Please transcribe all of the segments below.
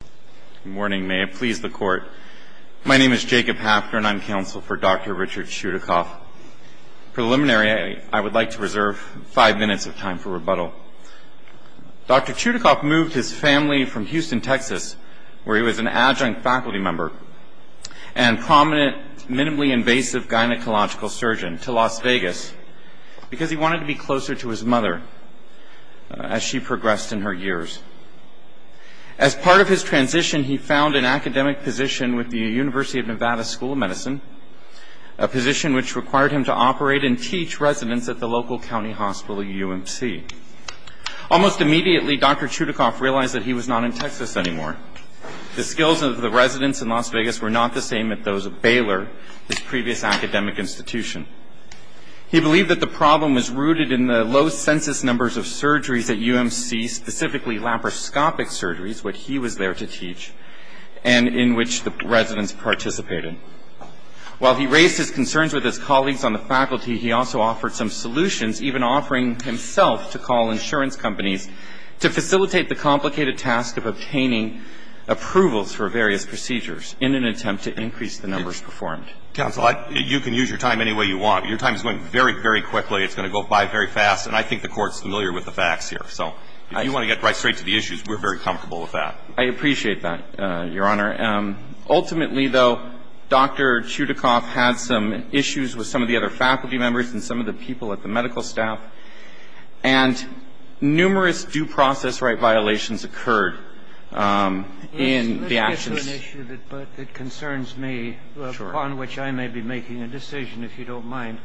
Good morning. May it please the Court, my name is Jacob Hafner and I'm counsel for Dr. Richard Chudacoff. Preliminary, I would like to reserve five minutes of time for rebuttal. Dr. Chudacoff moved his family from Houston, Texas, where he was an adjunct faculty member and prominent, minimally invasive gynecological surgeon, to Las Vegas because he wanted to be closer to his mother as she progressed in her years. As part of his transition, he found an academic position with the University of Nevada School of Medicine, a position which required him to operate and teach residents at the local county hospital, UMC. Almost immediately, Dr. Chudacoff realized that he was not in Texas anymore. The skills of the residents in Las Vegas were not the same as those of Baylor, his previous academic institution. He believed that the problem was rooted in the low census numbers of surgeries at UMC, specifically laparoscopic surgeries, what he was there to teach, and in which the residents participated. While he raised his concerns with his colleagues on the faculty, he also offered some solutions, even offering himself to call insurance companies to facilitate the complicated task of obtaining approvals for various procedures in an attempt to increase the numbers performed. I think you can use your time any way you want. Your time is going very, very quickly. It's going to go by very fast, and I think the Court is familiar with the facts here. So if you want to get right straight to the issues, we're very comfortable with that. I appreciate that, Your Honor. Ultimately, though, Dr. Chudacoff had some issues with some of the other faculty members and some of the people at the medical staff, and numerous due process right violations occurred in the actions. I have an issue that concerns me, upon which I may be making a decision, if you don't mind.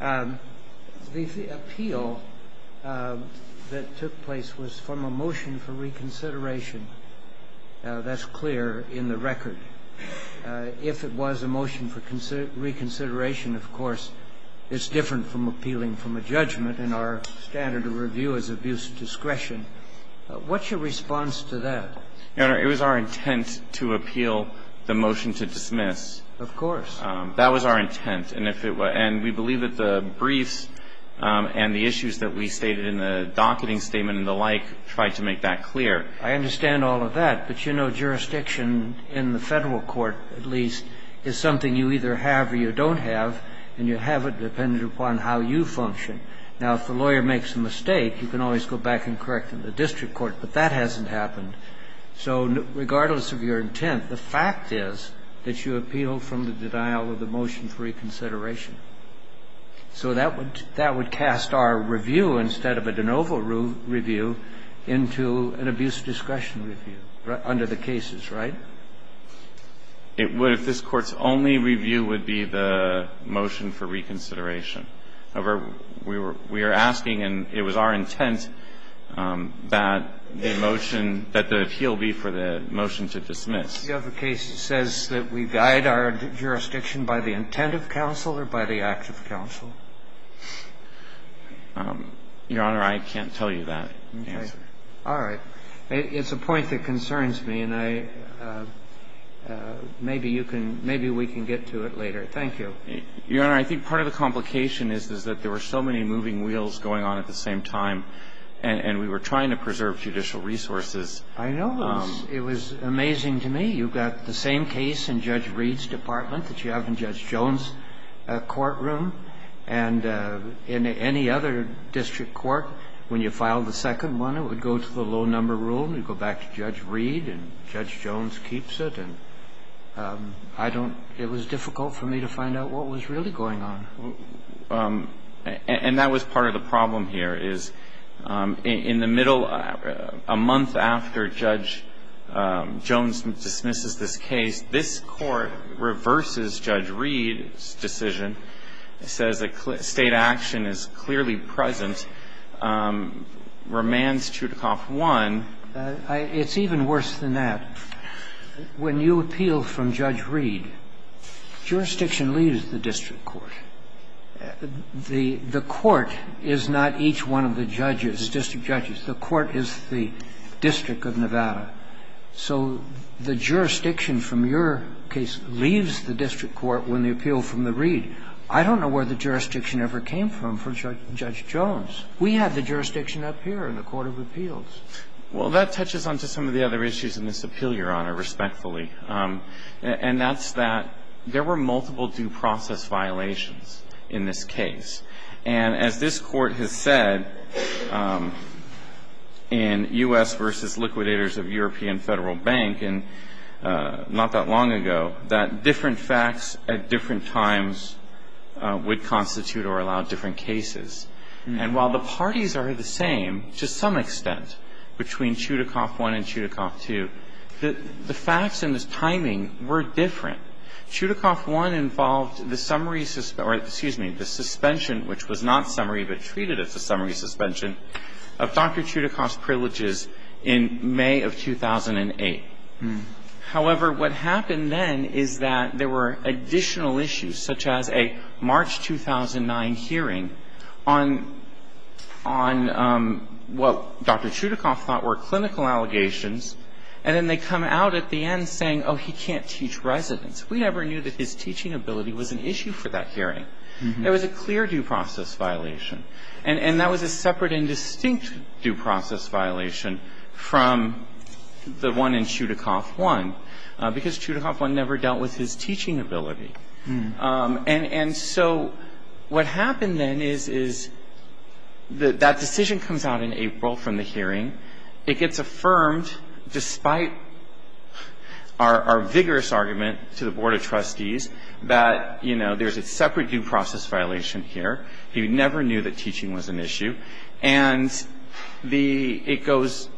The appeal that took place was from a motion for reconsideration. That's clear in the record. If it was a motion for reconsideration, of course, it's different from appealing from a judgment, and our standard of review is abuse of discretion. What's your response to that? Your Honor, it was our intent to appeal the motion to dismiss. Of course. That was our intent. And we believe that the briefs and the issues that we stated in the docketing statement and the like tried to make that clear. I understand all of that. But, you know, jurisdiction in the Federal court, at least, is something you either have or you don't have, and you have it dependent upon how you function. Now, if the lawyer makes a mistake, you can always go back and correct them in the So regardless of your intent, the fact is that you appealed from the denial of the motion for reconsideration. So that would cast our review, instead of a de novo review, into an abuse of discretion review under the cases, right? It would if this Court's only review would be the motion for reconsideration. So we're asking, and it was our intent, that the motion, that the appeal be for the motion to dismiss. Do you have a case that says that we guide our jurisdiction by the intent of counsel or by the act of counsel? Your Honor, I can't tell you that answer. Okay. All right. It's a point that concerns me, and I – maybe you can – maybe we can get to it later. Thank you. Your Honor, I think part of the complication is that there were so many moving wheels going on at the same time, and we were trying to preserve judicial resources. I know. It was amazing to me. You've got the same case in Judge Reed's department that you have in Judge Jones' courtroom. And in any other district court, when you file the second one, it would go to the low number rule, and it would go back to Judge Reed, and Judge Jones keeps it. And I don't – it was difficult for me to find out what was really going on. And that was part of the problem here, is in the middle – a month after Judge Jones dismisses this case, this Court reverses Judge Reed's decision. It says that State action is clearly present. Remands Chutakoff won. It's even worse than that. When you appeal from Judge Reed, jurisdiction leaves the district court. The court is not each one of the judges, district judges. The court is the district of Nevada. So the jurisdiction from your case leaves the district court when you appeal from the Reed. I don't know where the jurisdiction ever came from for Judge Jones. We have the jurisdiction up here in the court of appeals. Well, that touches on to some of the other issues in this appeal, Your Honor, respectfully. And that's that there were multiple due process violations in this case. And as this Court has said in U.S. v. Liquidators of European Federal Bank not that long ago, that different facts at different times would constitute or allow different cases. And while the parties are the same to some extent between Chutakoff I and Chutakoff II, the facts and the timing were different. Chutakoff I involved the summary or, excuse me, the suspension which was not summary but treated as a summary suspension of Dr. Chutakoff's privileges in May of 2008. However, what happened then is that there were additional issues such as a March 2009 hearing on what Dr. Chutakoff thought were clinical allegations. And then they come out at the end saying, oh, he can't teach residents. We never knew that his teaching ability was an issue for that hearing. There was a clear due process violation. And that was a separate and distinct due process violation from the one in Chutakoff I because Chutakoff I never dealt with his teaching ability. And so what happened then is that decision comes out in April from the hearing. It gets affirmed despite our vigorous argument to the Board of Trustees that, you know, there's a separate due process violation here. He never knew that teaching was an issue. And it goes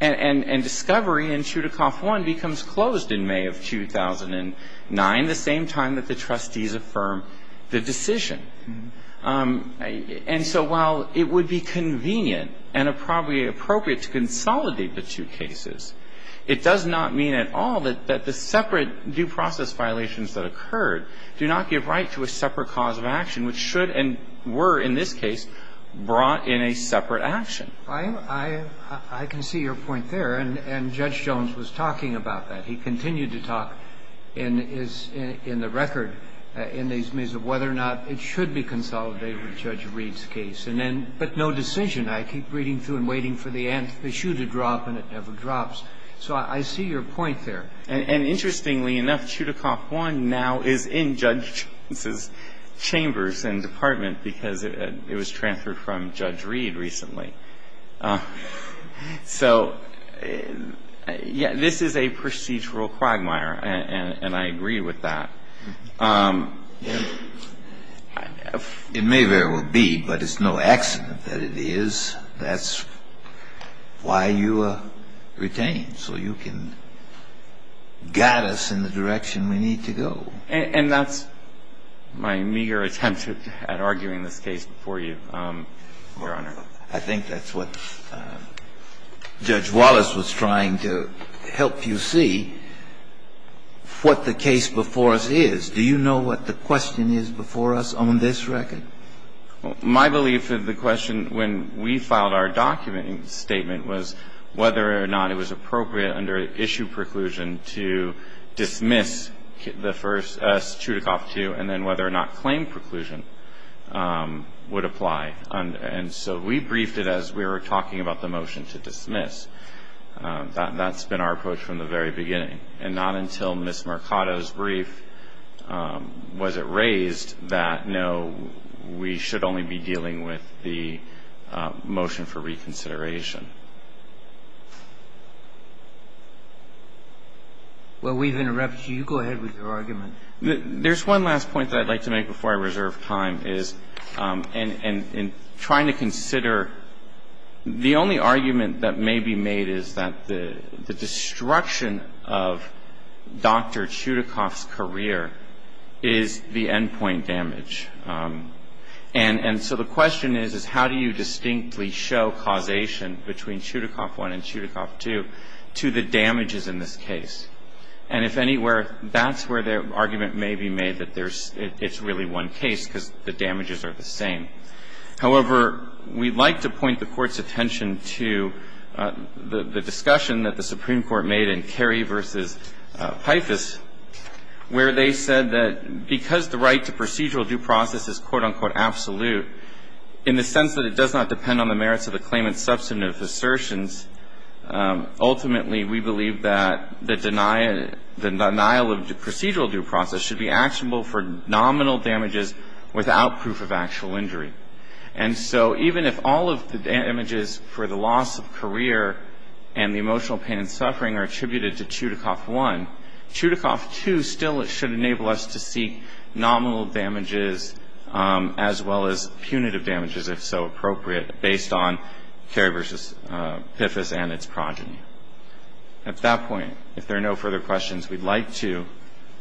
and discovery in Chutakoff I becomes closed in May of 2009. At the same time that the trustees affirm the decision. And so while it would be convenient and probably appropriate to consolidate the two cases, it does not mean at all that the separate due process violations that occurred do not give right to a separate cause of action which should and were in this case brought in a separate action. I can see your point there. And Judge Jones was talking about that. He continued to talk in the record in these ways of whether or not it should be consolidated with Judge Reed's case. But no decision. I keep reading through and waiting for the shoe to drop, and it never drops. So I see your point there. And interestingly enough, Chutakoff I now is in Judge Jones's chambers and department because it was transferred from Judge Reed recently. So, yes, this is a procedural quagmire, and I agree with that. It may very well be, but it's no accident that it is. That's why you retain. So you can guide us in the direction we need to go. And that's my meager attempt at arguing this case before you, Your Honor. I think that's what Judge Wallace was trying to help you see, what the case before us is. Do you know what the question is before us on this record? My belief of the question when we filed our document statement was whether or not it was appropriate under issue preclusion to dismiss the first, Chutakoff II, and then whether or not claim preclusion would apply. And so we briefed it as we were talking about the motion to dismiss. That's been our approach from the very beginning. And not until Ms. Mercado's brief was it raised that, no, we should only be dealing with the motion for reconsideration. Well, we've interrupted you. You go ahead with your argument. There's one last point that I'd like to make before I reserve time is in trying to consider the only argument that may be made is that the destruction of Dr. Chutakoff's career is the endpoint damage. And so the question is, is how do you distinctly show causation between Chutakoff I and Chutakoff II to the damages in this case? And if anywhere, that's where the argument may be made that it's really one case because the damages are the same. However, we'd like to point the Court's attention to the discussion that the Supreme Court made in Carey v. Pifus where they said that because the right to procedural due process is quote, unquote, absolute, in the sense that it does not depend on the denial of procedural due process, should be actionable for nominal damages without proof of actual injury. And so even if all of the damages for the loss of career and the emotional pain and suffering are attributed to Chutakoff I, Chutakoff II still should enable us to seek nominal damages as well as punitive damages, if so appropriate, based on Carey v. Pifus and its progeny. At that point, if there are no further questions, we'd like to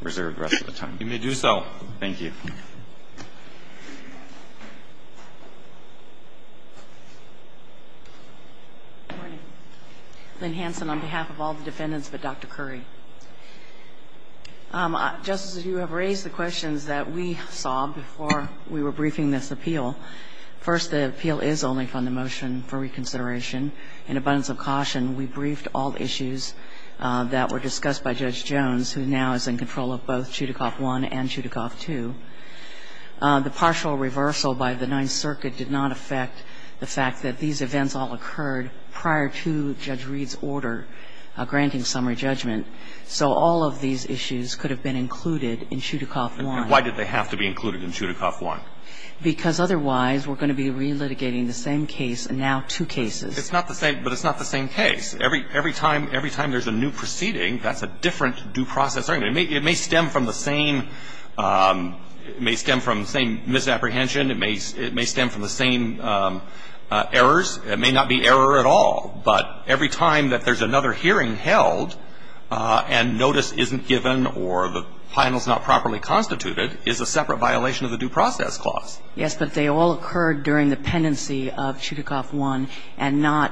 reserve the rest of the time. You may do so. Thank you. Good morning. Lynn Hansen on behalf of all the defendants but Dr. Curry. Justices, you have raised the questions that we saw before we were briefing this appeal. First, the appeal is only from the motion for reconsideration. In abundance of caution, we briefed all issues that were discussed by Judge Jones, who now is in control of both Chutakoff I and Chutakoff II. The partial reversal by the Ninth Circuit did not affect the fact that these events all occurred prior to Judge Reed's order granting summary judgment. So all of these issues could have been included in Chutakoff I. And why did they have to be included in Chutakoff I? Because otherwise we're going to be relitigating the same case and now two cases. But it's not the same case. Every time there's a new proceeding, that's a different due process. It may stem from the same misapprehension. It may stem from the same errors. It may not be error at all. But every time that there's another hearing held and notice isn't given or the final is not properly constituted is a separate violation of the due process clause. Yes, but they all occurred during the pendency of Chutakoff I and not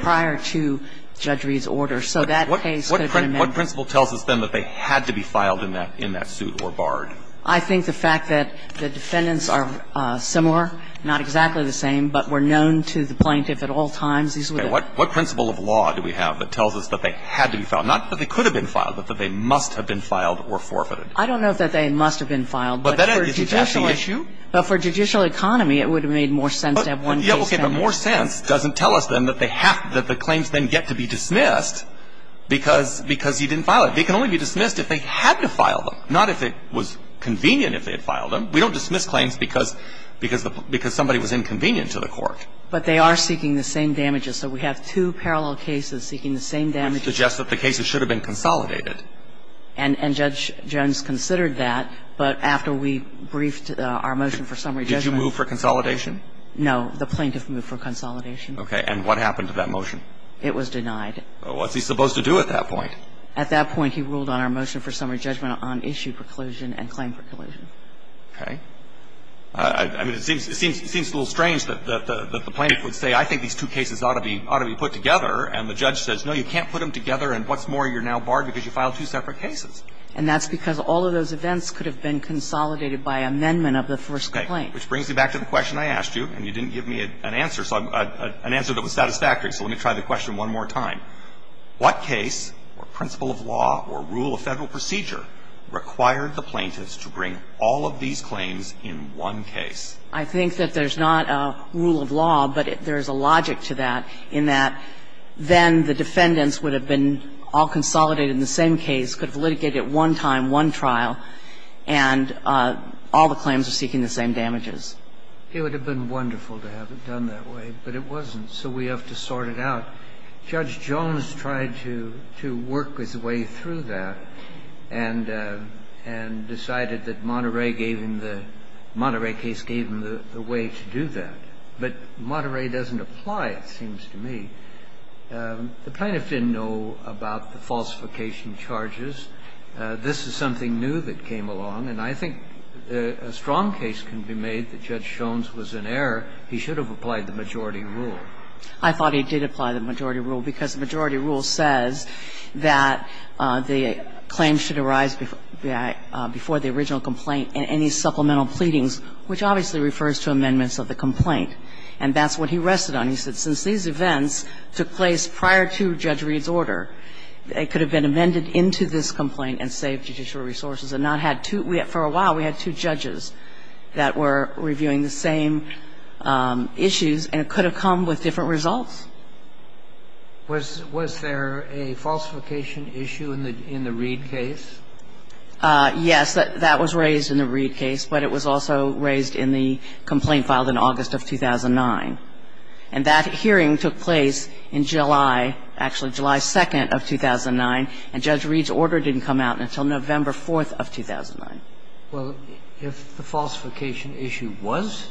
prior to Judge Reed's order. So that case could have been amended. What principle tells us, then, that they had to be filed in that suit or barred? I think the fact that the defendants are similar, not exactly the same, but were known to the plaintiff at all times. What principle of law do we have that tells us that they had to be filed? Not that they could have been filed, but that they must have been filed or forfeited. I don't know that they must have been filed. But that's the issue. But for judicial economy, it would have made more sense to have one case. Okay. But more sense doesn't tell us, then, that they have to be dismissed because he didn't file it. They can only be dismissed if they had to file them, not if it was convenient if they had filed them. We don't dismiss claims because somebody was inconvenient to the court. But they are seeking the same damages. So we have two parallel cases seeking the same damages. Which suggests that the cases should have been consolidated. And Judge Jones considered that. But after we briefed our motion for summary judgment. Did you move for consolidation? No. The plaintiff moved for consolidation. Okay. And what happened to that motion? It was denied. What's he supposed to do at that point? At that point, he ruled on our motion for summary judgment on issue preclusion and claim preclusion. Okay. I mean, it seems a little strange that the plaintiff would say, I think these two cases ought to be put together. And the judge says, no, you can't put them together. And what's more, you're now barred because you filed two separate cases. And that's because all of those events could have been consolidated by amendment of the first complaint. Okay. Which brings me back to the question I asked you, and you didn't give me an answer that was satisfactory. So let me try the question one more time. What case or principle of law or rule of Federal procedure required the plaintiffs to bring all of these claims in one case? I think that there's not a rule of law, but there's a logic to that, in that then the defendants would have been all consolidated in the same case, could have litigated at one time, one trial, and all the claims are seeking the same damages. It would have been wonderful to have it done that way, but it wasn't. So we have to sort it out. Judge Jones tried to work his way through that and decided that Monterey gave him the – Monterey case gave him the way to do that. But Monterey doesn't apply, it seems to me. The plaintiffs didn't know about the falsification charges. This is something new that came along. And I think a strong case can be made that Judge Jones was in error. He should have applied the majority rule. I thought he did apply the majority rule, because the majority rule says that the claim should arise before the original complaint in any supplemental pleadings, which obviously refers to amendments of the complaint. And that's what he rested on. He said since these events took place prior to Judge Reed's order, it could have been amended into this complaint and saved judicial resources and not had two – for a while we had two judges that were reviewing the same issues, and it could have come with different results. Was there a falsification issue in the Reed case? Yes, that was raised in the Reed case, but it was also raised in the complaint filed in August of 2009. And that hearing took place in July – actually, July 2nd of 2009, and Judge Reed's order didn't come out until November 4th of 2009. Well, if the falsification issue was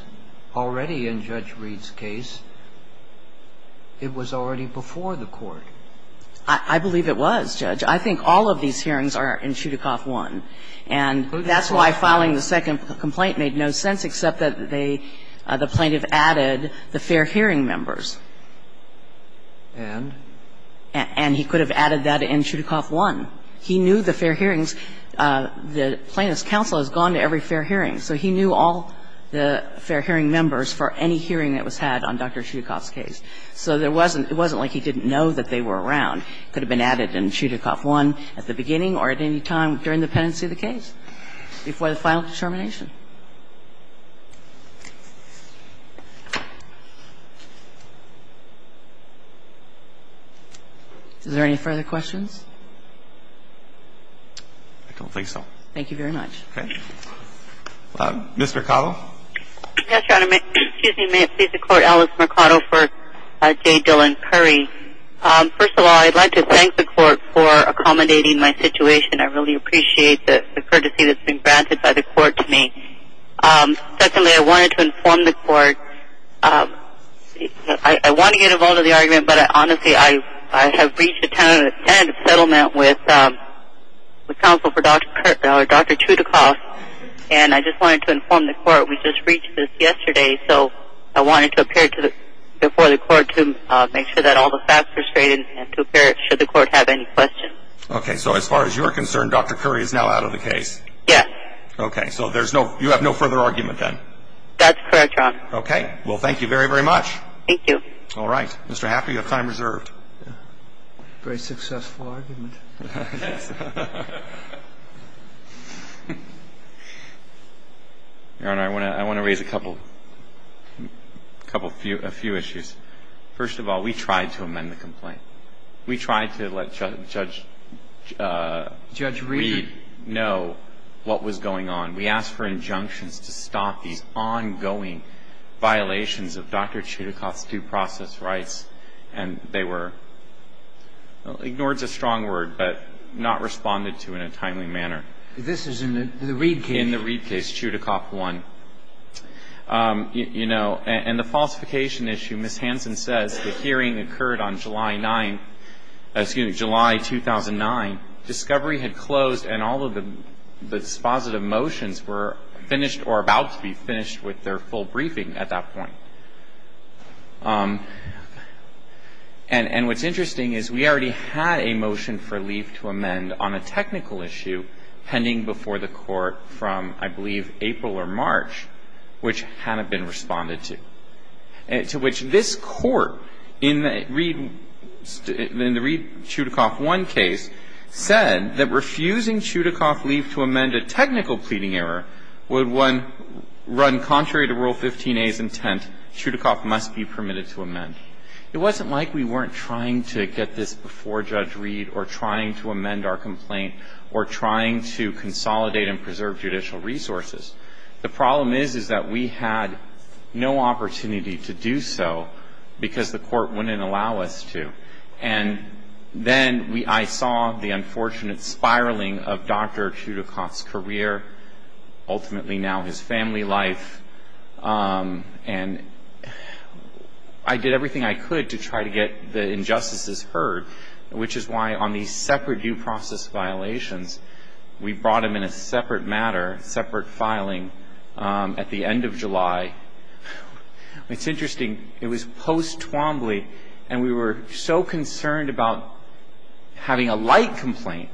already in Judge Reed's case, it was already before the court. I believe it was, Judge. I think all of these hearings are in Chudakoff 1. And that's why filing the second complaint made no sense, except that they – the Fair Hearing members. And? And he could have added that in Chudakoff 1. He knew the Fair Hearings – the plaintiff's counsel has gone to every Fair Hearing. So he knew all the Fair Hearing members for any hearing that was had on Dr. Chudakoff's case. So there wasn't – it wasn't like he didn't know that they were around. It could have been added in Chudakoff 1 at the beginning or at any time during the pendency of the case before the final determination. Is there any further questions? I don't think so. Thank you very much. Okay. Ms. Mercado? Yes, Your Honor. May it please the Court, Alice Mercado for J. Dillon Curry. First of all, I'd like to thank the Court for accommodating my situation. I really appreciate the courtesy that's been granted by the Court to me. Secondly, I wanted to inform the Court – I want to get a vote on the argument, but honestly, I have reached a tentative settlement with counsel for Dr. Chudakoff, and I just wanted to inform the Court we just reached this yesterday. So I wanted to appear before the Court to make sure that all the facts are straight and to appear should the Court have any questions. Okay. So as far as you're concerned, Dr. Curry is now out of the case? Yes. Okay. So there's no – you have no further argument then? That's correct, Your Honor. Okay. Well, thank you very, very much. Thank you. All right. Mr. Haffner, you have time reserved. Very successful argument. Your Honor, I want to raise a couple – a few issues. First of all, we tried to amend the complaint. We tried to let Judge Reed know what was going on. We asked for injunctions to stop these ongoing violations of Dr. Chudakoff's due process rights, and they were – ignored's a strong word, but not responded to in a timely manner. This is in the Reed case? In the Reed case, Chudakoff 1. You know, and the falsification issue, Ms. Hansen says the hearing occurred on July 9th – excuse me, July 2009. Discovery had closed and all of the dispositive motions were finished or about to be finished with their full briefing at that point. And what's interesting is we already had a motion for leave to amend on a technical issue pending before the Court from, I believe, April or March, which hadn't been responded to. To which this Court in the Reed – in the Reed-Chudakoff 1 case said that refusing Chudakoff leave to amend a technical pleading error would run contrary to Rule 15a's intent. Chudakoff must be permitted to amend. It wasn't like we weren't trying to get this before Judge Reed or trying to amend our complaint or trying to consolidate and preserve judicial resources. The problem is, is that we had no opportunity to do so because the Court wouldn't allow us to. And then I saw the unfortunate spiraling of Dr. Chudakoff's career, ultimately now his family life, and I did everything I could to try to get the injustices heard, which is why on these separate due process violations, we brought them in a separate matter, separate filing at the end of July. It's interesting. It was post-Twombly, and we were so concerned about having a light complaint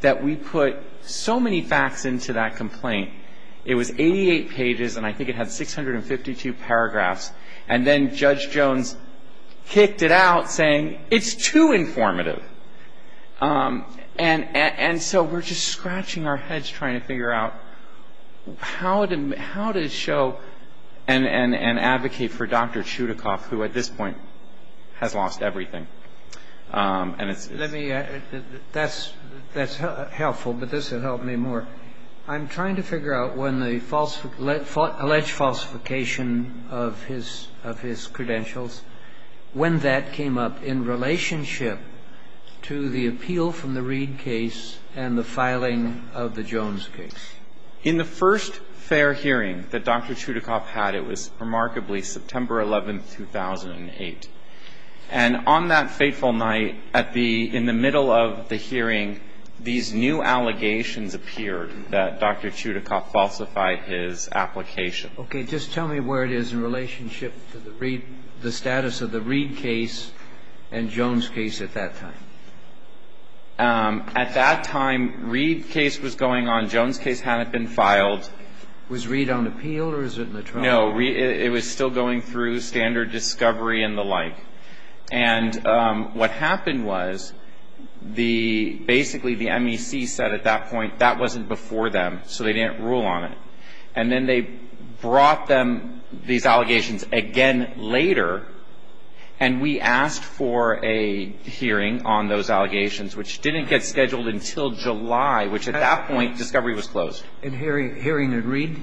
that we put so many facts into that complaint. It was 88 pages, and I think it had 652 paragraphs. And then Judge Jones kicked it out, saying, it's too informative. And so we're just scratching our heads trying to figure out how to show and advocate for Dr. Chudakoff, who at this point has lost everything. And it's this. Let me add. That's helpful, but this would help me more. I'm trying to figure out when the alleged falsification of his credentials, when that came up in relationship to the appeal from the Reed case and the filing of the Jones case. In the first fair hearing that Dr. Chudakoff had, it was remarkably September 11, 2008. And on that fateful night, at the – in the middle of the hearing, these new allegations appeared that Dr. Chudakoff falsified his application. Okay. Just tell me where it is in relationship to the Reed – the status of the Reed case and Jones case at that time. At that time, Reed case was going on. Jones case hadn't been filed. Was Reed on appeal, or was it in the trial? No. Reed – it was still going through standard discovery and the like. And what happened was the – basically, the MEC said at that point that wasn't before them, so they didn't rule on it. And then they brought them – these allegations again later, and we asked for a hearing on those allegations, which didn't get scheduled until July, which at that point, discovery was closed. And hearing at Reed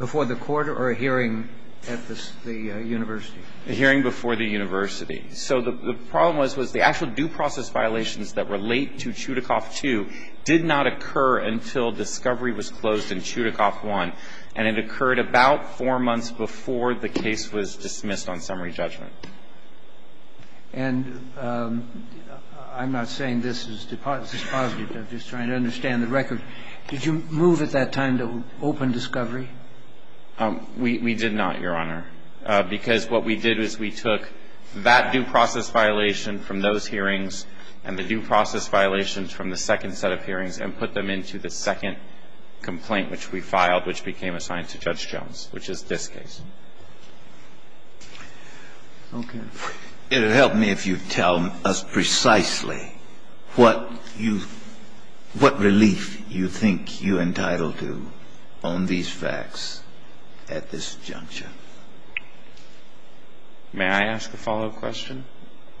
before the court or a hearing at the university? A hearing before the university. So the problem was, was the actual due process violations that relate to Chudakoff 2 did not occur until discovery was closed in Chudakoff 1, and it occurred about four months before the case was dismissed on summary judgment. And I'm not saying this is – this is positive. I'm just trying to understand the record. Did you move at that time to open discovery? We did not, Your Honor, because what we did is we took that due process violation from those hearings and the due process violations from the second set of hearings and put them into the second complaint, which we filed, which became assigned to Judge Jones, which is this case. Okay. It would help me if you tell us precisely what you – what relief you think you're entitled to on these facts at this juncture. May I ask a follow-up question?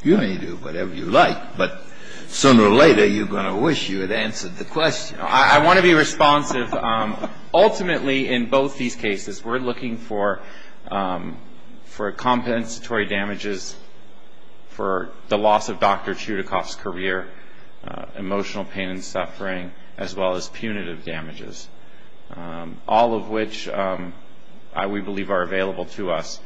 You may do whatever you like, but sooner or later, you're going to wish you had answered the question. I want to be responsive. Ultimately, in both these cases, we're looking for compensatory damages for the loss of Dr. Chudakoff's career, emotional pain and suffering, as well as punitive damages, all of which we believe are available to us.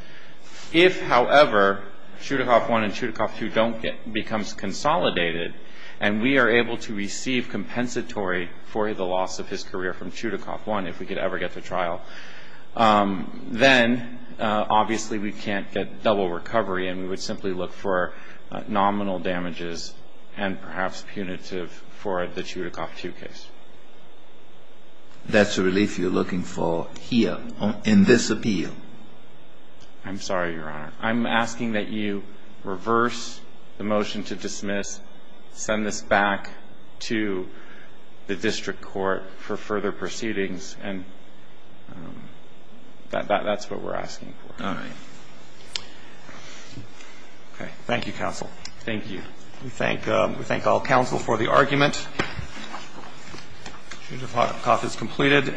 If, however, Chudakoff 1 and Chudakoff 2 don't get – becomes consolidated and we are able to receive compensatory for the loss of his career from Chudakoff 1, if we could ever get to trial, then, obviously, we can't get double recovery and we would simply look for nominal damages and perhaps punitive for the Chudakoff 2 case. That's the relief you're looking for here in this appeal. I'm sorry, Your Honor. I'm asking that you reverse the motion to dismiss, send this back to the district court for further proceedings, and that's what we're asking for. All right. Okay. Thank you, counsel. Thank you. We thank all counsel for the argument. Chudakoff is completed.